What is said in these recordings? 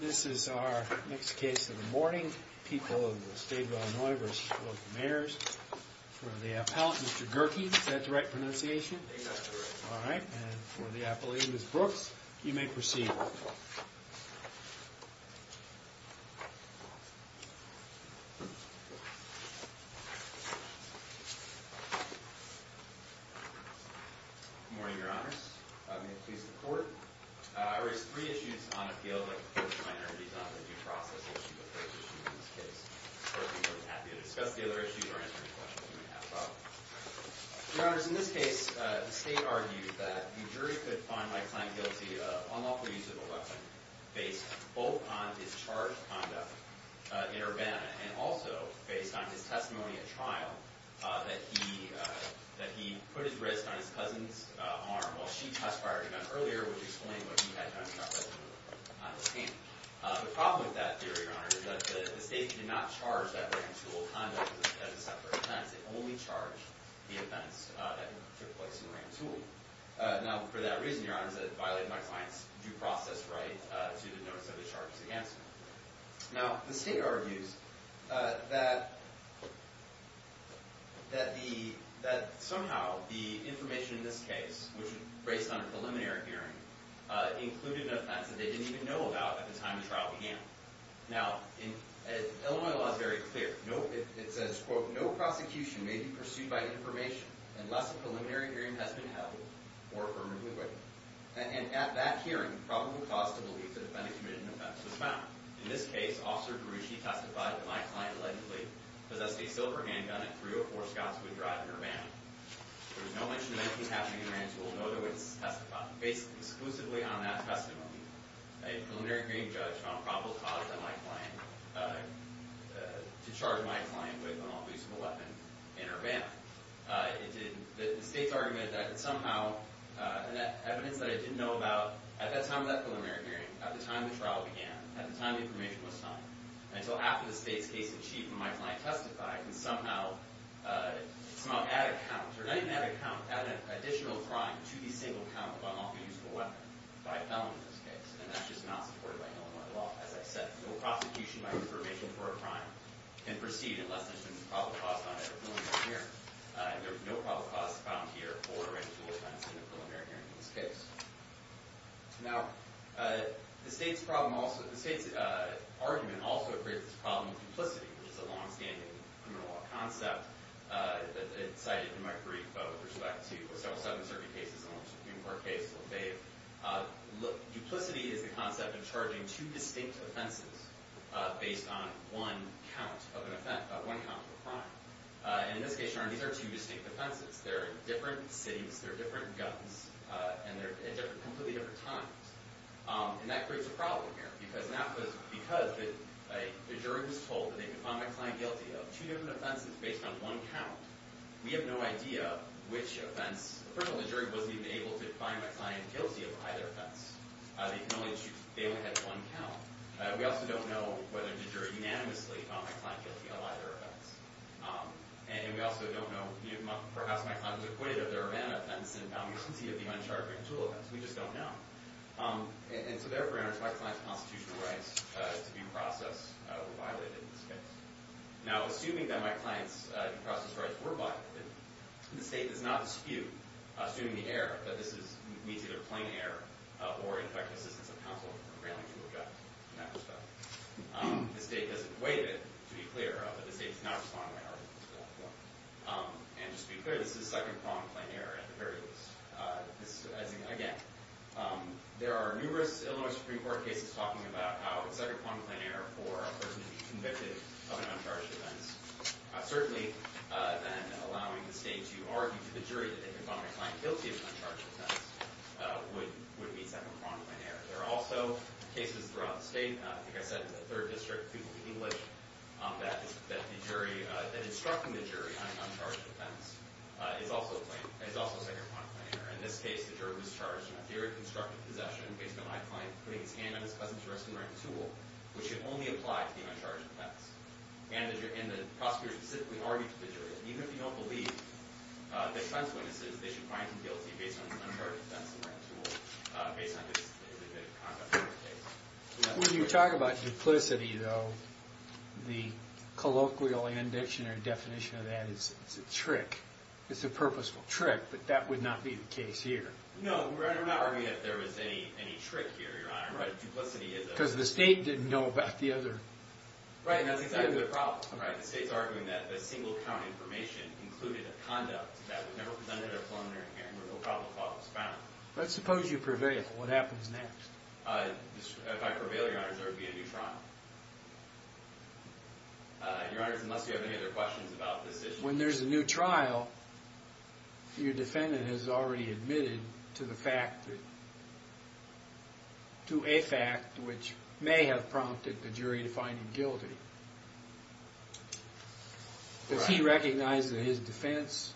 This is our next case of the morning. People of the state of Illinois v. local mayors. For the appellant, Mr. Gerke, is that the right pronunciation? That's correct. All right. And for the appellee, Ms. Brooks, you may proceed. Good morning, your honors. May it please the court. I raise three issues on appeal that the court of minorities on the due process issue appraises you in this case. The court would be more than happy to discuss the other issues or answer any questions you may have about them. Your honors, in this case, the state argued that the jury could find by claim guilty an unlawful use of a weapon based both on his charged conduct in Urbana and also based on his testimony at trial that he put his wrist on his cousin's arm while she test fired him earlier, which explained what he had done to her cousin on the scene. The problem with that theory, your honors, is that the state did not charge that ram tool conduct as a separate offense. It only charged the offense that took place in ram tool. Now, for that reason, your honors, it violated my client's due process right to the notice of the charges against him. Now, the state argues that somehow the information in this case, which was based on a preliminary hearing, included an offense that they didn't even know about at the time the trial began. Now, Illinois law is very clear. It says, quote, no prosecution may be pursued by information unless a preliminary hearing has been held or permanently waived. And at that hearing, probable cause to believe the defendant committed an offense was found. In this case, Officer Girushi testified that my client allegedly possessed a silver handgun at 304 Scott's Wood Drive in Urbana. There was no mention of anything happening in ram tool, no evidence to testify. Based exclusively on that testimony, a preliminary hearing judge found probable cause to charge my client with an illegible weapon in Urbana. The state's argument that somehow evidence that I didn't know about at that time of that preliminary hearing, at the time the trial began, at the time the information was signed, until after the state's case is achieved and my client testified, can somehow add a count, or not even add a count, add an additional crime to the single count of unlawful use of a weapon by a felon in this case. And that's just not supported by Illinois law. As I said, no prosecution by information for a crime can proceed unless there's been a probable cause found at a preliminary hearing. There was no probable cause found here for a ram tool offense in a preliminary hearing in this case. Now, the state's problem also, the state's argument also creates this problem of duplicity, which is a longstanding criminal law concept. It's cited in my brief with respect to several Southern Circuit cases, along with Supreme Court case Lafayette. Look, duplicity is the concept of charging two distinct offenses based on one count of a crime. And in this case, Your Honor, these are two distinct offenses. They're in different cities. They're different guns. And they're at completely different times. And that creates a problem here because the jury was told that they could find my client guilty of two different offenses based on one count. We have no idea which offense. First of all, the jury wasn't even able to find my client guilty of either offense. They only had one count. We also don't know whether the jury unanimously found my client guilty of either offense. And we also don't know, perhaps my client was acquitted of the ram offense and found guilty of the uncharged ram tool offense. We just don't know. And so, therefore, in respect to my client's constitutional rights to be processed were violated in this case. Now, assuming that my client's process rights were violated, the state does not dispute, assuming the error, that this meets either plain error or infected assistance of counsel for a ramming tool gun. The state doesn't waive it, to be clear, but the state does not respond to that argument. And just to be clear, this is second-pronged plain error at the very least. Again, there are numerous Illinois Supreme Court cases talking about how it's second-pronged plain error for a person to be convicted of an uncharged offense. Certainly, then, allowing the state to argue to the jury that they could find my client guilty of an uncharged offense would be second-pronged plain error. There are also cases throughout the state, like I said, in the 3rd District, Peoples v. English, that the jury – that instructing the jury on an uncharged offense is also second-pronged plain error. In this case, the jury was charged in a theory of constructive possession based on my client putting his hand on his cousin's arresting ram tool, which should only apply to the uncharged offense. And the prosecutor specifically argued to the jury that even if you don't believe the defense witnesses, they should find him guilty based on the uncharged offense of the ram tool, based on the conduct of the case. When you talk about duplicity, though, the colloquial and dictionary definition of that is it's a trick. It's a purposeful trick, but that would not be the case here. No, we're not arguing that there was any trick here, Your Honor. Because the state didn't know about the other – Right, and that's exactly the problem, right? The state's arguing that the single-count information included a conduct that was never presented at a preliminary hearing, where no probable cause was found. Let's suppose you prevail. What happens next? If I prevail, Your Honor, there would be a new trial. Your Honor, unless you have any other questions about this issue. When there's a new trial, your defendant has already admitted to the fact that – to a fact which may have prompted the jury to find him guilty. If he recognizes that his defense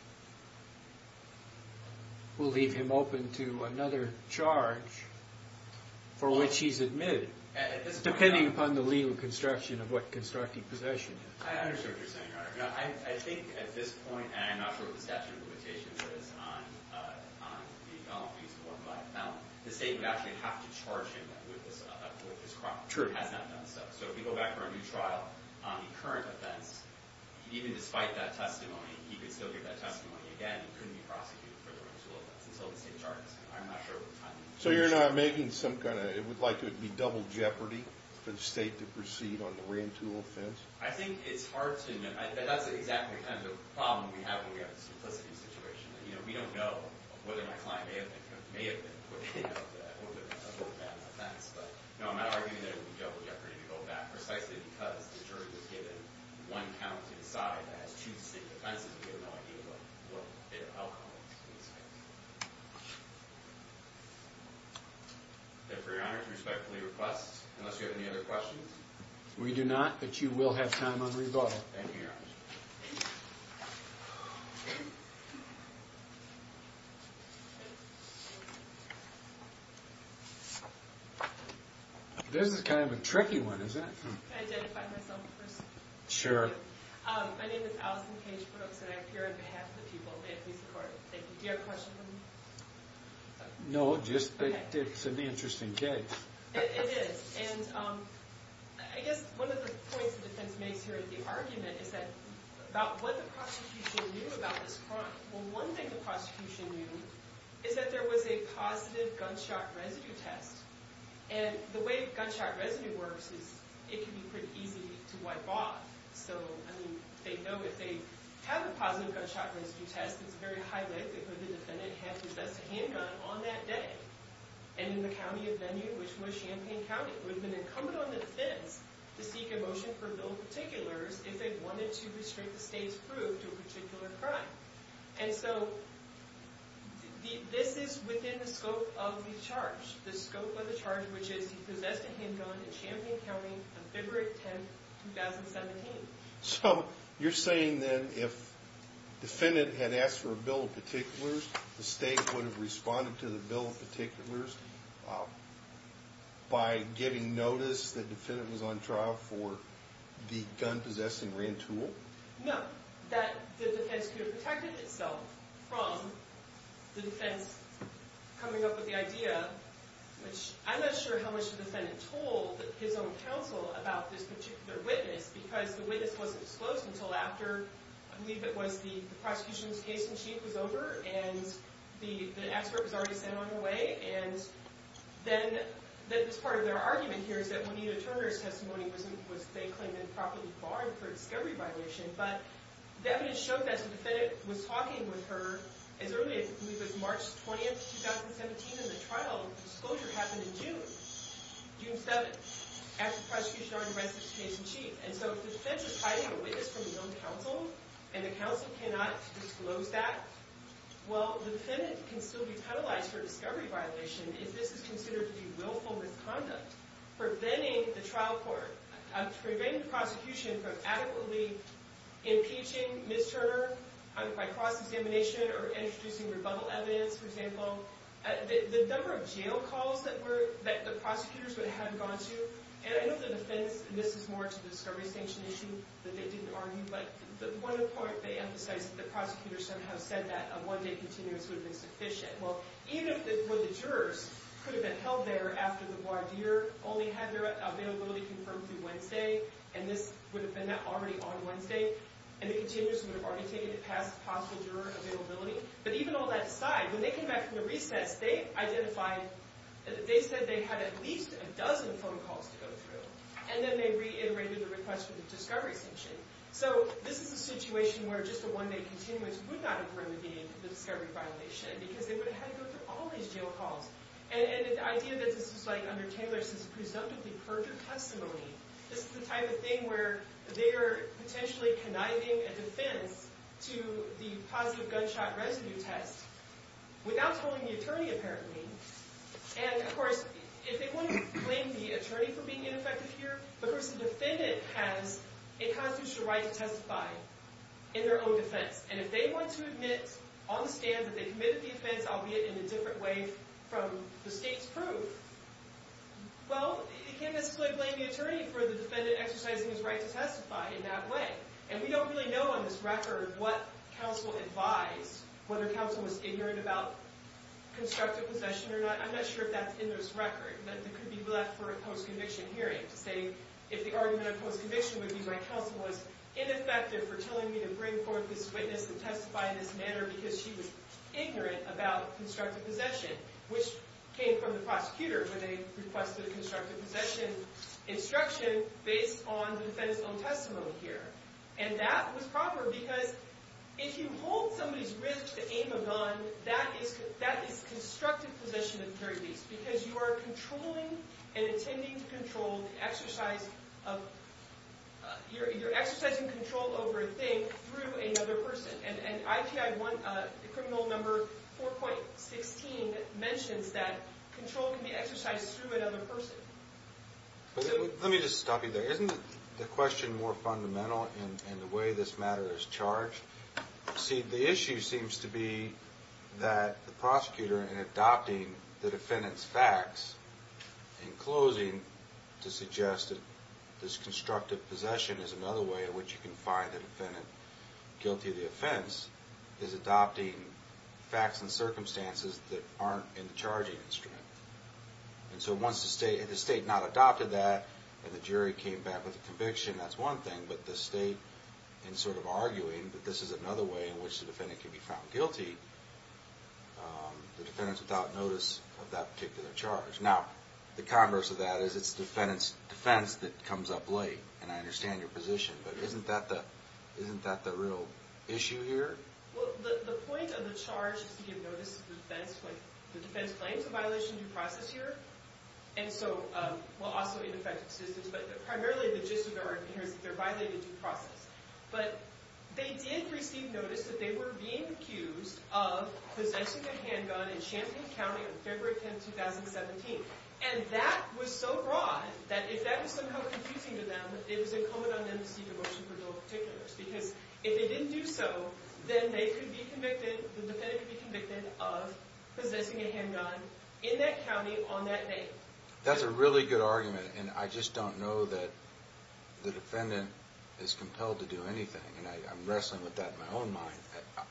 will leave him open to another charge for which he's admitted, depending upon the legal construction of what constructing possession is. I understand what you're saying, Your Honor. I think at this point, and I'm not sure what the statute of limitations is, on the felony. The state would actually have to charge him with this crime. It has not done so. So if we go back for a new trial on the current offense, even despite that testimony, he could still get that testimony again. He couldn't be prosecuted for the Rantoul offense until the state charges him. I'm not sure what the timing is. So you're not making some kind of – it would like to be double jeopardy for the state to proceed on the Rantoul offense? I think it's hard to – that's exactly kind of the problem we have when we have this complicity situation. You know, we don't know whether my client may have been acquitted of the Rantoul offense. But, no, I'm not arguing that it would be double jeopardy to go back precisely because the jury was given one count to decide. That has two distinct offenses. We have no idea what their outcome is. If we're honored to respectfully request, unless you have any other questions? We do not. But you will have time on rebuttal. This is kind of a tricky one, isn't it? Can I identify myself first? Sure. My name is Allison Cage-Brooks, and I appear on behalf of the people that we support. Thank you. Do you have a question for me? No, just that it's an interesting case. It is. And I guess one of the points the defense makes here at the argument is that – about what the prosecution knew about this crime. Well, one thing the prosecution knew is that there was a positive gunshot residue test. And the way gunshot residue works is it can be pretty easy to wipe off. So, I mean, they know if they have a positive gunshot residue test, it's very highly likely for the defendant to have possessed a handgun on that day. And in the county of venue, which was Champaign County, it would have been incumbent on the defendants to seek a motion for bill of particulars if they wanted to restrict the state's proof to a particular crime. And so, this is within the scope of the charge. The scope of the charge, which is he possessed a handgun in Champaign County on February 10, 2017. So, you're saying then if the defendant had asked for a bill of particulars, the state would have responded to the bill of particulars by giving notice that the defendant was on trial for the gun-possessing rantool? No. It's not that the defense could have protected itself from the defense coming up with the idea, which I'm not sure how much the defendant told his own counsel about this particular witness, because the witness wasn't disclosed until after, I believe it was the prosecution's case-in-chief was over and the expert was already sent on their way. And then, that was part of their argument here, is that Juanita Turner's testimony was, they claimed, improperly barred for discovery violation. But the evidence showed that the defendant was talking with her as early as, I believe it was March 20, 2017, and the trial disclosure happened in June. June 7th, after the prosecution already read the case-in-chief. And so, if the defense is hiding a witness from his own counsel, and the counsel cannot disclose that, well, the defendant can still be penalized for discovery violation if this is considered to be willful misconduct. Preventing the trial court, preventing the prosecution from adequately impeaching Ms. Turner by cross-examination or introducing rebuttal evidence, for example. The number of jail calls that the prosecutors would have gone to, and I know the defense, and this is more to the discovery sanction issue, that they didn't argue, but the point of the court, they emphasized that the prosecutor somehow said that a one-day continuous would have been sufficient. Well, even if the jurors could have been held there after the voir dire only had their availability confirmed through Wednesday, and this would have been already on Wednesday, and the continuous would have already taken it past possible juror availability, but even all that aside, when they came back from the recess, they identified, they said they had at least a dozen phone calls to go through, and then they reiterated the request for the discovery sanction. So, this is a situation where just a one-day continuous would not have remedied the discovery violation, because they would have had to go through all these jail calls. And the idea that this is, like, under Taylor's presumptively perfect testimony, this is the type of thing where they are potentially conniving a defense to the positive gunshot residue test without telling the attorney, apparently, and, of course, if they want to blame the attorney for being ineffective here, of course, the defendant has a constitutional right to testify in their own defense. And if they want to admit on the stand that they committed the offense, albeit in a different way from the state's proof, well, they can't necessarily blame the attorney for the defendant exercising his right to testify in that way. And we don't really know on this record what counsel advised, whether counsel was ignorant about constructive possession or not. I'm not sure if that's in this record, but it could be left for a post-conviction hearing to say if the argument of post-conviction would be, like, counsel was ineffective for telling me to bring forth this witness to testify in this manner because she was ignorant about constructive possession, which came from the prosecutor, where they requested a constructive possession instruction based on the defendant's own testimony here. And that was proper because if you hold somebody's risk to aim a gun, that is constructive possession of the very least because you are controlling and intending to control the exercise of—you're exercising control over a thing through another person. And IPI 1—Criminal No. 4.16 mentions that control can be exercised through another person. Let me just stop you there. Isn't the question more fundamental in the way this matter is charged? See, the issue seems to be that the prosecutor, in adopting the defendant's facts, in closing, to suggest that this constructive possession is another way in which you can find the defendant guilty of the offense, is adopting facts and circumstances that aren't in the charging instrument. And so once the state—if the state not adopted that and the jury came back with a conviction, that's one thing, but the state, in sort of arguing that this is another way in which the defendant can be found guilty, the defendant's without notice of that particular charge. Now, the converse of that is it's the defendant's defense that comes up late, and I understand your position, but isn't that the real issue here? Well, the point of the charge is to give notice to the defense when the defense claims a violation of due process here, and so—well, also ineffective assistance, but primarily the gist of the argument here is that they're violating due process. But they did receive notice that they were being accused of possessing a handgun in Champaign County on February 10, 2017, and that was so broad that if that was somehow confusing to them, it was incumbent on them to seek a motion for dual particulars. Because if they didn't do so, then they could be convicted—the defendant could be convicted of possessing a handgun in that county on that day. That's a really good argument, and I just don't know that the defendant is compelled to do anything, and I'm wrestling with that in my own mind.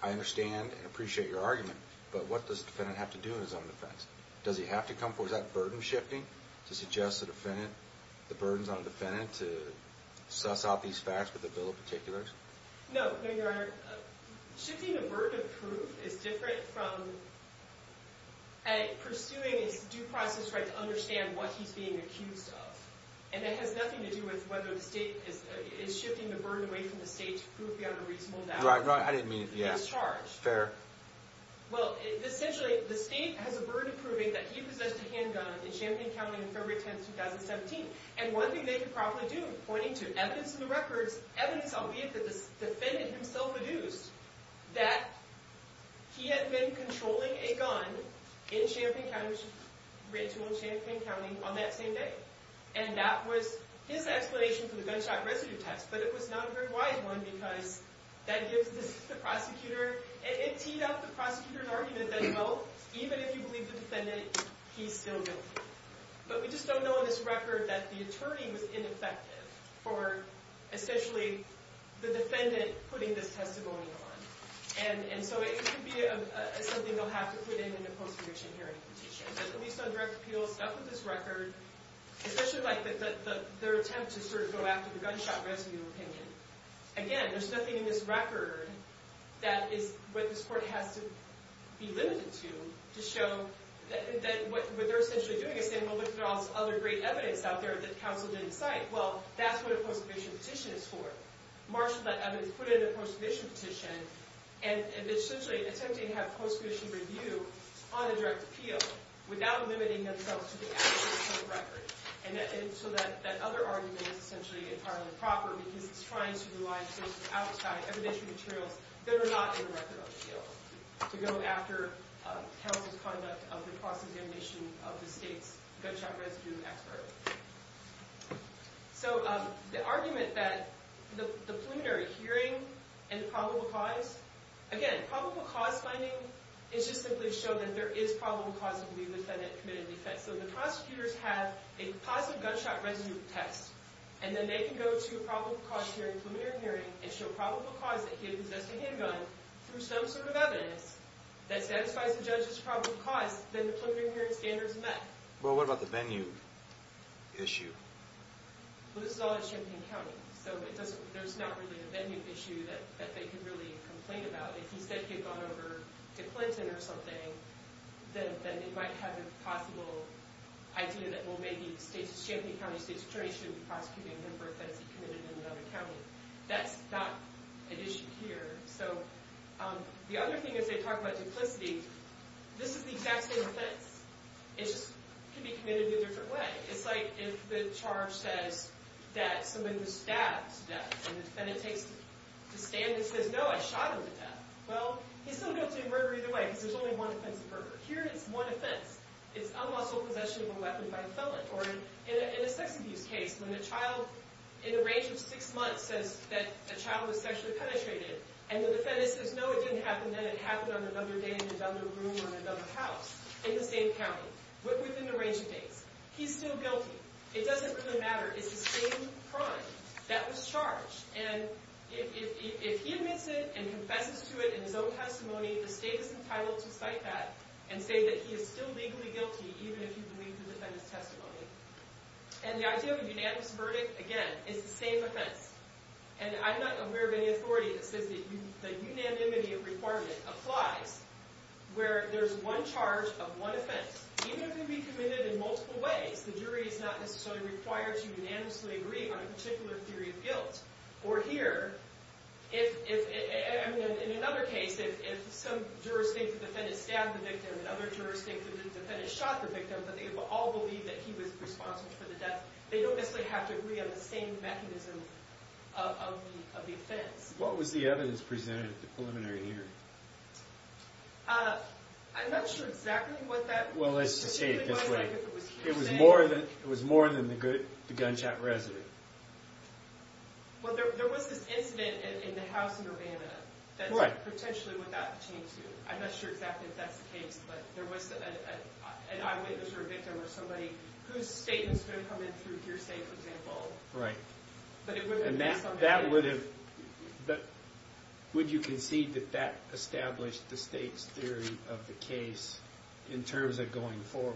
I understand and appreciate your argument, but what does the defendant have to do in his own defense? Does he have to come forward? Is that burden-shifting to suggest the defendant—the burden's on the defendant to suss out these facts with a bill of particulars? No, no, Your Honor. Shifting the burden of proof is different from pursuing his due process right to understand what he's being accused of. And it has nothing to do with whether the state is shifting the burden away from the state to prove he had a reasonable doubt. Right, right. I didn't mean—yeah. He's charged. Fair. Well, essentially, the state has a burden of proving that he possessed a handgun in Champaign County on February 10, 2017. And one thing they could probably do, pointing to evidence in the records—evidence, albeit that the defendant himself had used— that he had been controlling a gun in Champaign County—written to him in Champaign County on that same day. And that was his explanation for the gunshot residue test, but it was not a very wise one because that gives the prosecutor— it teed up the prosecutor's argument that, well, even if you believe the defendant, he's still guilty. But we just don't know in this record that the attorney was ineffective for, essentially, the defendant putting this testimony on. And so it could be something they'll have to put in in a post-conviction hearing petition. But at least on direct appeal, stuff in this record—especially like their attempt to sort of go after the gunshot residue opinion— again, there's nothing in this record that is what this court has to be limited to to show that what they're essentially doing is saying, well, look at all this other great evidence out there that counsel didn't cite. Well, that's what a post-conviction petition is for. Marshall let evidence put in a post-conviction petition and essentially attempting to have post-conviction review on a direct appeal without limiting themselves to the actual court record. And so that other argument is essentially entirely proper because it's trying to rely on evidence from materials that are not in the record on appeal to go after counsel's conduct of the cross-examination of the state's gunshot residue expert. So the argument that the preliminary hearing and probable cause— again, probable cause finding is just simply to show that there is probable cause to believe the defendant committed an offense. So the prosecutors have a positive gunshot residue test, and then they can go to a probable cause hearing, preliminary hearing, and show probable cause that he had possessed a handgun through some sort of evidence that satisfies the judge's probable cause. Then the preliminary hearing standard is met. Well, what about the Bennu issue? Well, this is all in Champaign County, so there's not really a Bennu issue that they could really complain about. If he said he had gone over to Clinton or something, then they might have a possible idea that, well, maybe Champaign County State's attorney shouldn't be prosecuting him for an offense he committed in another county. That's not an issue here. So the other thing is they talk about duplicity. This is the exact same offense. It just can be committed in a different way. It's like if the charge says that someone was stabbed to death, and the defendant takes to stand and says, no, I shot him to death. Well, he's still guilty of murder either way, because there's only one offense of murder. Here, it's one offense. It's unlawful possession of a weapon by a felon. Or in a sex abuse case, when a child in the range of six months says that a child was sexually penetrated, and the defendant says, no, it didn't happen, then it happened on another day in another room or in another house in the same county, but within the range of days. He's still guilty. It doesn't really matter. It's the same crime that was charged. And if he admits it and confesses to it in his own testimony, the state is entitled to cite that and say that he is still legally guilty, even if he believed the defendant's testimony. And the idea of a unanimous verdict, again, is the same offense. And I'm not aware of any authority that says that the unanimity requirement applies, where there's one charge of one offense. Even if it can be committed in multiple ways, the jury is not necessarily required to unanimously agree on a particular theory of guilt. Or here, in another case, if some jurors think the defendant stabbed the victim and other jurors think the defendant shot the victim, but they all believe that he was responsible for the death, they don't necessarily have to agree on the same mechanism of the offense. What was the evidence presented at the preliminary hearing? I'm not sure exactly what that was. Well, let's just say it this way. It was more than the gunshot residue. Well, there was this incident in the house in Urbana. What? That's potentially what that pertains to. I'm not sure exactly if that's the case, but there was an eyewitness or a victim or somebody whose statement is going to come in through hearsay, for example. Right. But it wouldn't be based on evidence. Would you concede that that established the state's theory of the case in terms of going forward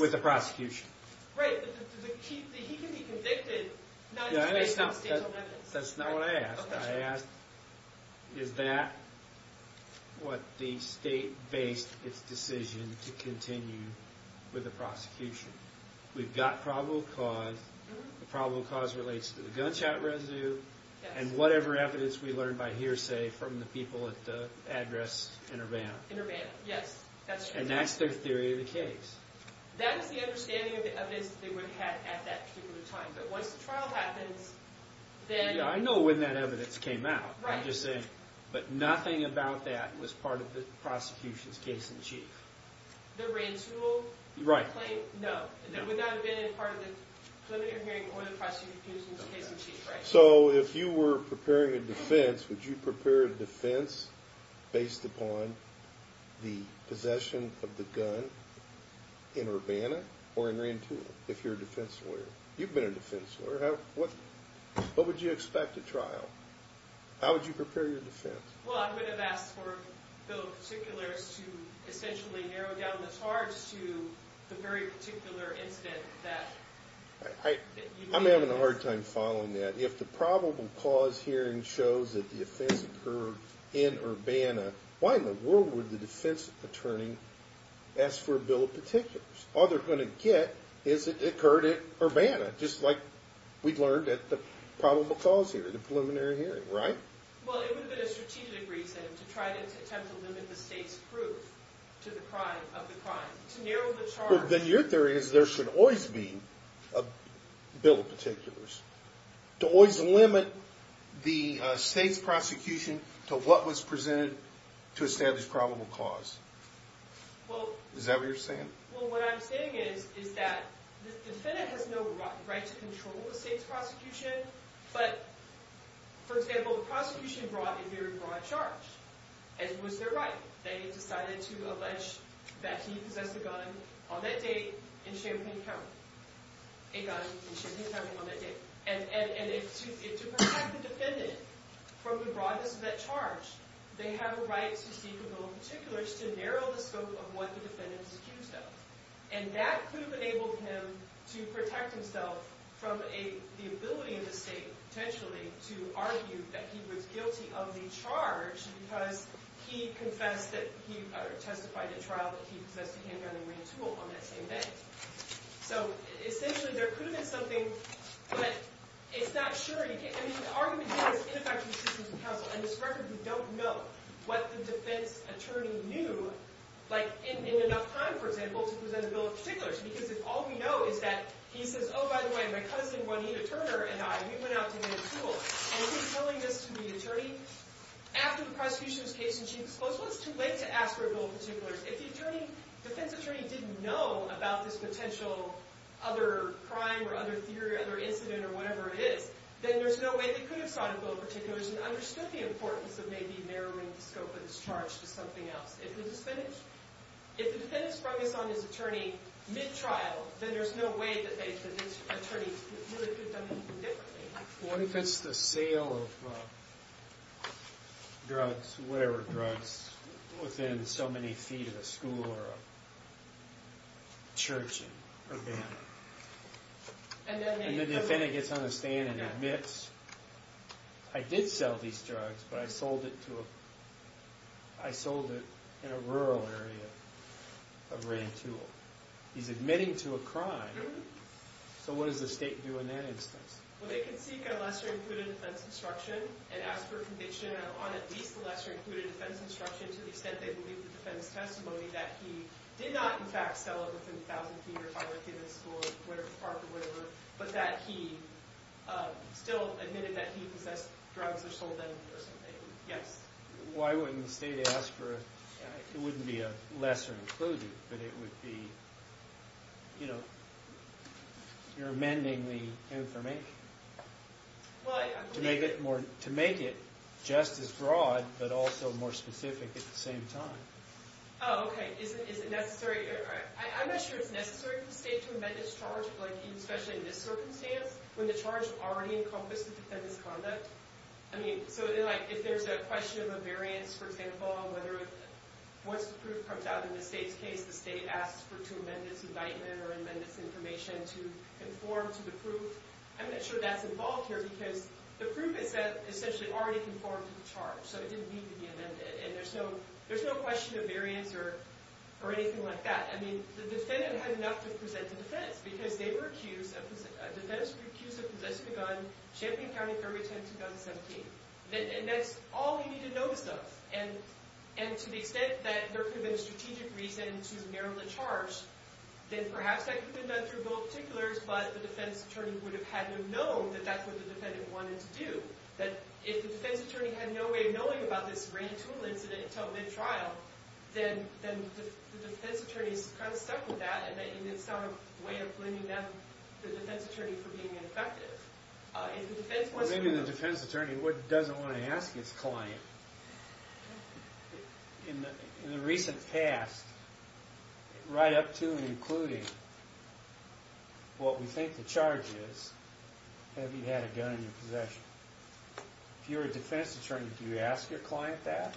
with the prosecution? Right. He can be convicted, not based on state evidence. That's not what I asked. Is that what the state based its decision to continue with the prosecution? We've got probable cause. The probable cause relates to the gunshot residue and whatever evidence we learned by hearsay from the people at the address in Urbana. In Urbana, yes. And that's their theory of the case. That is the understanding of the evidence that they would have had at that particular time. But once the trial happens, then— I know when that evidence came out. Right. I'm just saying. But nothing about that was part of the prosecution's case in chief. The Rantoul claim? Right. No. It would not have been part of the preliminary hearing or the prosecution's case in chief, right? So if you were preparing a defense, would you prepare a defense based upon the possession of the gun in Urbana or in Rantoul if you're a defense lawyer? You've been a defense lawyer. What would you expect at trial? How would you prepare your defense? Well, I would have asked for a bill of particulars to essentially narrow down the charge to the very particular incident that— I'm having a hard time following that. If the probable cause hearing shows that the offense occurred in Urbana, why in the world would the defense attorney ask for a bill of particulars? All they're going to get is it occurred at Urbana, just like we've learned at the probable cause hearing, the preliminary hearing, right? Well, it would have been a strategic reason to try to attempt to limit the state's proof of the crime, to narrow the charge. Then your theory is there should always be a bill of particulars, to always limit the state's prosecution to what was presented to establish probable cause. Is that what you're saying? Well, what I'm saying is that the defendant has no right to control the state's prosecution, but, for example, the prosecution brought a very broad charge. It was their right. They decided to allege that he possessed a gun on that date in Champaign County. A gun in Champaign County on that date. To protect the defendant from the broadness of that charge, they have a right to seek a bill of particulars to narrow the scope of what the defendant is accused of. That could have enabled him to protect himself from the ability of the state, potentially, to argue that he was guilty of the charge because he testified in trial that he possessed a handgun and ran tool on that same day. So, essentially, there could have been something, but it's not sure. I mean, the argument here is ineffective assistance from counsel. On this record, we don't know what the defense attorney knew, like, in enough time, for example, to present a bill of particulars. Because if all we know is that he says, oh, by the way, my cousin Juanita Turner and I, we went out to get a tool. And he's telling this to the attorney. After the prosecution's case in chief was closed, well, it's too late to ask for a bill of particulars. If the defense attorney didn't know about this potential other crime or other theory or other incident or whatever it is, then there's no way they could have sought a bill of particulars and understood the importance of maybe narrowing the scope of this charge to something else. If the defendant is focused on his attorney mid-trial, then there's no way that the attorney really could have done anything differently. What if it's the sale of drugs, whatever drugs, within so many feet of a school or a church in Urbana? And then the defendant gets on the stand and admits, I did sell these drugs, but I sold it in a rural area of Rantoul. He's admitting to a crime. So what does the state do in that instance? Well, they can seek a lesser-included defense instruction and ask for a conviction on at least a lesser-included defense instruction to the extent they believe the defendant's testimony that he did not, in fact, sell it within a thousand feet or five feet of the school or whatever park or whatever, but that he still admitted that he possessed drugs or sold them or something. Yes? Why wouldn't the state ask for a – it wouldn't be a lesser-included, but it would be, you know, you're amending the information to make it just as broad but also more specific at the same time. Oh, okay. Is it necessary – I'm not sure it's necessary for the state to amend its charge, especially in this circumstance, when the charge already encompasses defendant's conduct. I mean, so then, like, if there's a question of a variance, for example, on whether – once the proof comes out in the state's case, the state asks for two amendments, indictment or amendments, information to conform to the proof. I'm not sure that's involved here because the proof is essentially already conformed to the charge, so it didn't need to be amended, and there's no question of variance or anything like that. I mean, the defendant had enough to present to defense because they were accused – a defendant was accused of possessing a gun, Champaign County Fairway 10, 2017. And that's all he needed to know the stuff, and to the extent that there could have been a strategic reason to narrow the charge, then perhaps that could have been done through both particulars, but the defense attorney would have had to have known that that's what the defendant wanted to do. That if the defense attorney had no way of knowing about this grand tool incident until mid-trial, then the defense attorney's kind of stuck with that, and that you didn't start a way of blaming them, the defense attorney, for being ineffective. Maybe the defense attorney doesn't want to ask his client. In the recent past, right up to and including what we think the charge is, have you had a gun in your possession? If you're a defense attorney, do you ask your client that?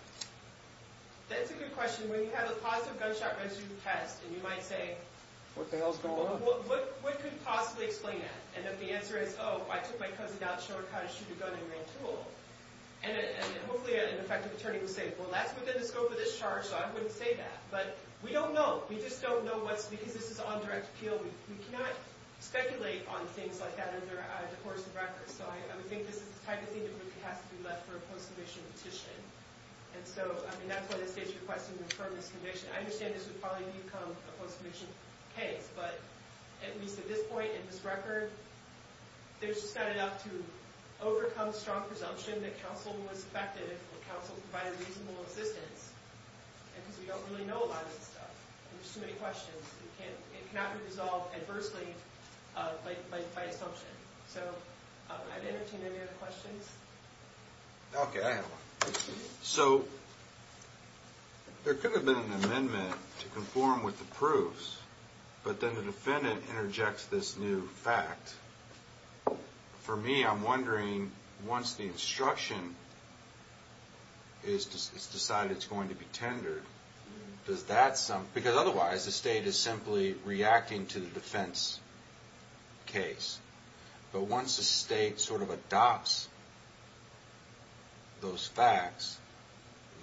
That's a good question. When you have a positive gunshot residue test, and you might say – What the hell's going on? What could possibly explain that? And if the answer is, oh, I took my cousin out to show her how to shoot a gun in a grand tool, and hopefully an effective attorney would say, well, that's within the scope of this charge, so I wouldn't say that. But we don't know. We just don't know what's – because this is on direct appeal, we cannot speculate on things like that under a divorce of records. So I would think this is the type of thing that would have to be left for a post-commission petition. And so, I mean, that's why the state's requesting to affirm this conviction. I understand this would probably become a post-commission case, but at least at this point in this record, there's just not enough to overcome strong presumption that counsel was effective, that counsel provided reasonable assistance. And because we don't really know a lot of this stuff, and there's too many questions, it cannot be resolved adversely by assumption. So I'd entertain any other questions. Okay, I have one. So there could have been an amendment to conform with the proofs, but then the defendant interjects this new fact. For me, I'm wondering, once the instruction is decided it's going to be tendered, does that – because otherwise, the state is simply reacting to the defense case. But once the state sort of adopts those facts,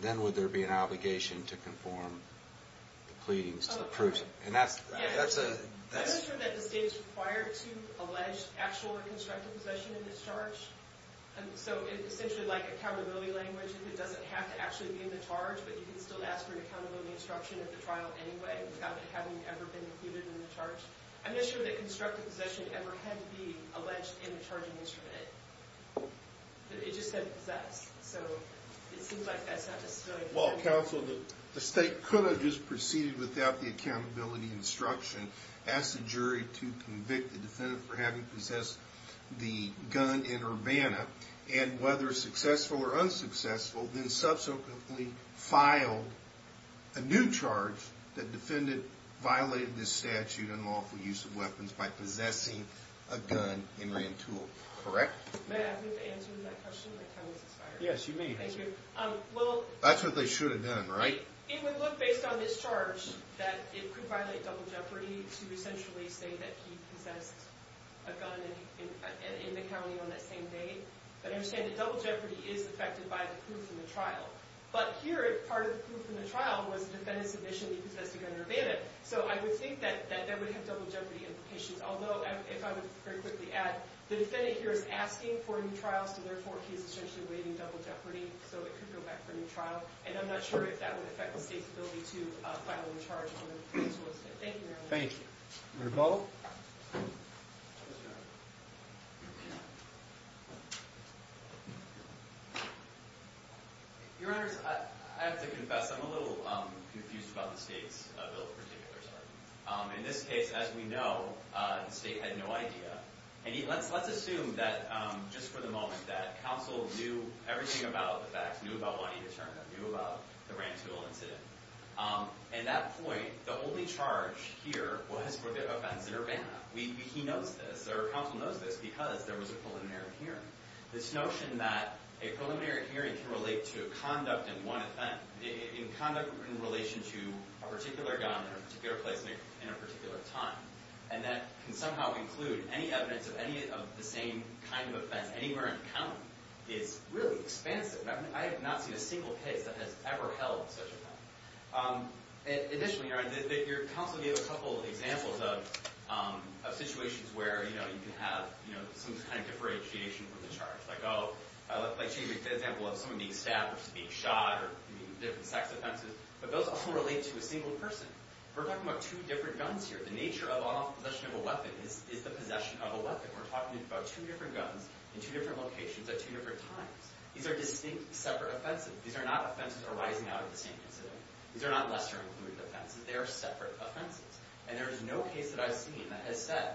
then would there be an obligation to conform the pleadings to the proofs? I'm not sure that the state is required to allege actual or constructive possession in this charge. So essentially, like accountability language, it doesn't have to actually be in the charge, but you can still ask for an accountability instruction at the trial anyway without it having ever been included in the charge. I'm not sure that constructive possession ever had to be alleged in the charging instrument. It just said possessed, so it seems like that's not necessarily – Well, counsel, the state could have just proceeded without the accountability instruction, asked the jury to convict the defendant for having possessed the gun in Urbana, and whether successful or unsuccessful, then subsequently filed a new charge that defendant violated this statute on lawful use of weapons by possessing a gun in Rantoul, correct? May I have an answer to that question? My time has expired. Yes, you may. Thank you. That's what they should have done, right? It would look, based on this charge, that it could violate double jeopardy to essentially say that he possessed a gun in the county on that same day. But I understand that double jeopardy is affected by the proof in the trial. But here, part of the proof in the trial was the defendant's admission that he possessed a gun in Urbana. So I would think that that would have double jeopardy implications. Although, if I could very quickly add, the defendant here is asking for a new trial, so therefore, he's essentially waiving double jeopardy. So it could go back for a new trial. And I'm not sure if that would affect the state's ability to file a new charge on Rantoul. Thank you, Your Honor. Thank you. Rebuttal? Your Honors, I have to confess, I'm a little confused about the state's bill in particular. In this case, as we know, the state had no idea. And let's assume that, just for the moment, that counsel knew everything about the facts, knew about Juanita Turner, knew about the Rantoul incident. At that point, the only charge here was for the offense in Urbana. He knows this, or counsel knows this, because there was a preliminary hearing. This notion that a preliminary hearing can relate to conduct in one event, in conduct in relation to a particular gun in a particular place in a particular time, and that can somehow include any evidence of any of the same kind of events anywhere in count, is really expansive. I have not seen a single case that has ever held such a thing. Additionally, Your Honor, your counsel gave a couple of examples of situations where you can have some kind of differentiation from the charge. Like she gave the example of someone being stabbed versus being shot, or different sex offenses. But those all relate to a single person. We're talking about two different guns here. The nature of possession of a weapon is the possession of a weapon. We're talking about two different guns in two different locations at two different times. These are distinct, separate offenses. These are not offenses arising out of the same incident. These are not lesser-included offenses. They are separate offenses. And there is no case that I've seen that has said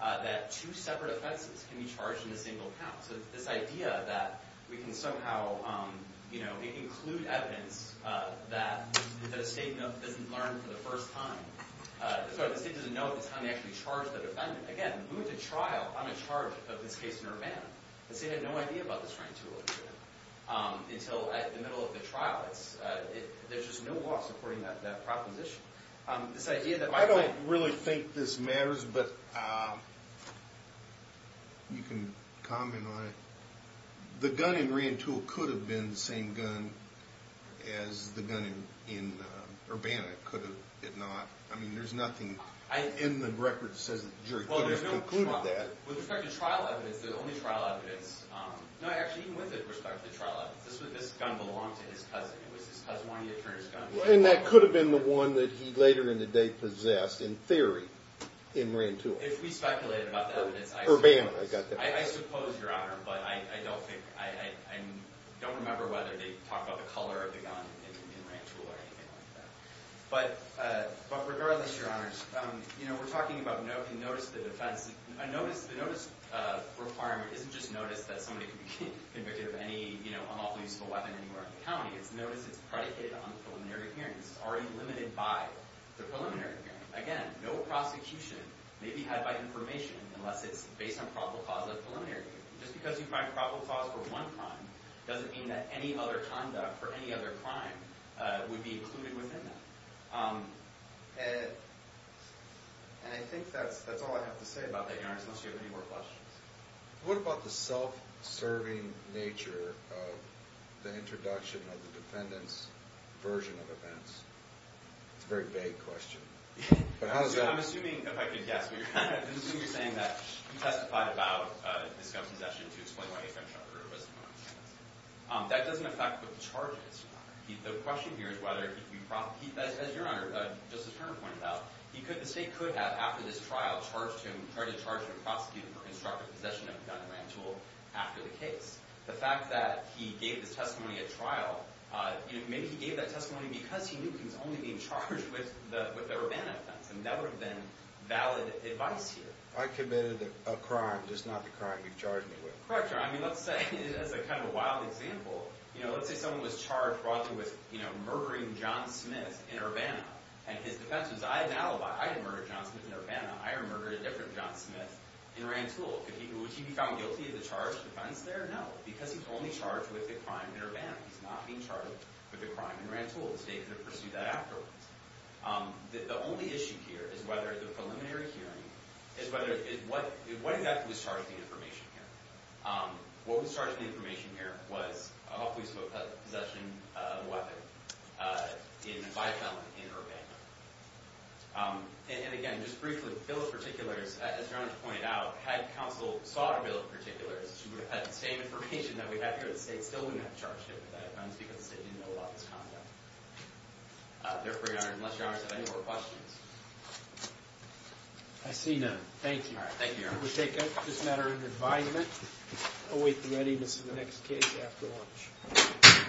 that two separate offenses can be charged in a single count. So this idea that we can somehow include evidence that the state doesn't learn for the first time. The state doesn't know at the time they actually charged the defendant. Again, moving to trial, I'm in charge of this case in Urbana. The state had no idea about this Reintul incident until at the middle of the trial. There's just no law supporting that proposition. I don't really think this matters, but you can comment on it. The gun in Reintul could have been the same gun as the gun in Urbana. Could it not? I mean, there's nothing in the record that says the jury could have concluded that. With respect to trial evidence, the only trial evidence, no, actually, even with respect to the trial evidence, this gun belonged to his cousin. It was his cousin's attorney's gun. And that could have been the one that he later in the day possessed, in theory, in Reintul. If we speculated about the evidence, I suppose. Urbana, I got that right. I suppose, Your Honor, but I don't think, I don't remember whether they talked about the color of the gun in Reintul or anything like that. But regardless, Your Honors, we're talking about notice of the defense. The notice requirement isn't just notice that somebody could be convicted of any unlawful use of a weapon anywhere in the county. It's notice it's predicated on the preliminary hearing. It's already limited by the preliminary hearing. Again, no prosecution may be had by information unless it's based on probable cause of the preliminary hearing. Just because you find probable cause for one crime doesn't mean that any other conduct for any other crime would be included within that. And I think that's all I have to say about that, Your Honors, unless you have any more questions. What about the self-serving nature of the introduction of the defendant's version of events? It's a very vague question. I'm assuming, if I could guess, I'm assuming you're saying that he testified about his gun possession to explain why his gun shot her. That doesn't affect what the charges are. The question here is whether he could be – as Your Honor, Justice Turner pointed out, the state could have, after this trial, tried to charge the prosecutor for instructive possession of a gun and land tool after the case. The fact that he gave this testimony at trial, maybe he gave that testimony because he knew he was only being charged with the Urbana offense, and that would have been valid advice here. I committed a crime, just not the crime you've charged me with. Correct, Your Honor. I mean, let's say, as kind of a wild example, let's say someone was charged, broadly, with murdering John Smith in Urbana, and his defense was, I had an alibi. I didn't murder John Smith in Urbana. I murdered a different John Smith in Rantoul. Could he be found guilty of the charged offense there? No, because he's only charged with a crime in Urbana. He's not being charged with a crime in Rantoul. The state could have pursued that afterwards. The only issue here is whether the preliminary hearing is whether, what exactly was charged in the information here? What was charged in the information here was a hopeful use of a possession of a weapon by a felon in Urbana. And, again, just briefly, bill of particulars, as Your Honor pointed out, had counsel sought a bill of particulars, she would have had the same information that we have here at the state, still wouldn't have charged him with that offense because the state didn't know about this conduct. Therefore, Your Honor, unless Your Honor has any more questions. I see none. Thank you. All right. Thank you, Your Honor. We take this matter into the environment. Await the readiness of the next case after lunch.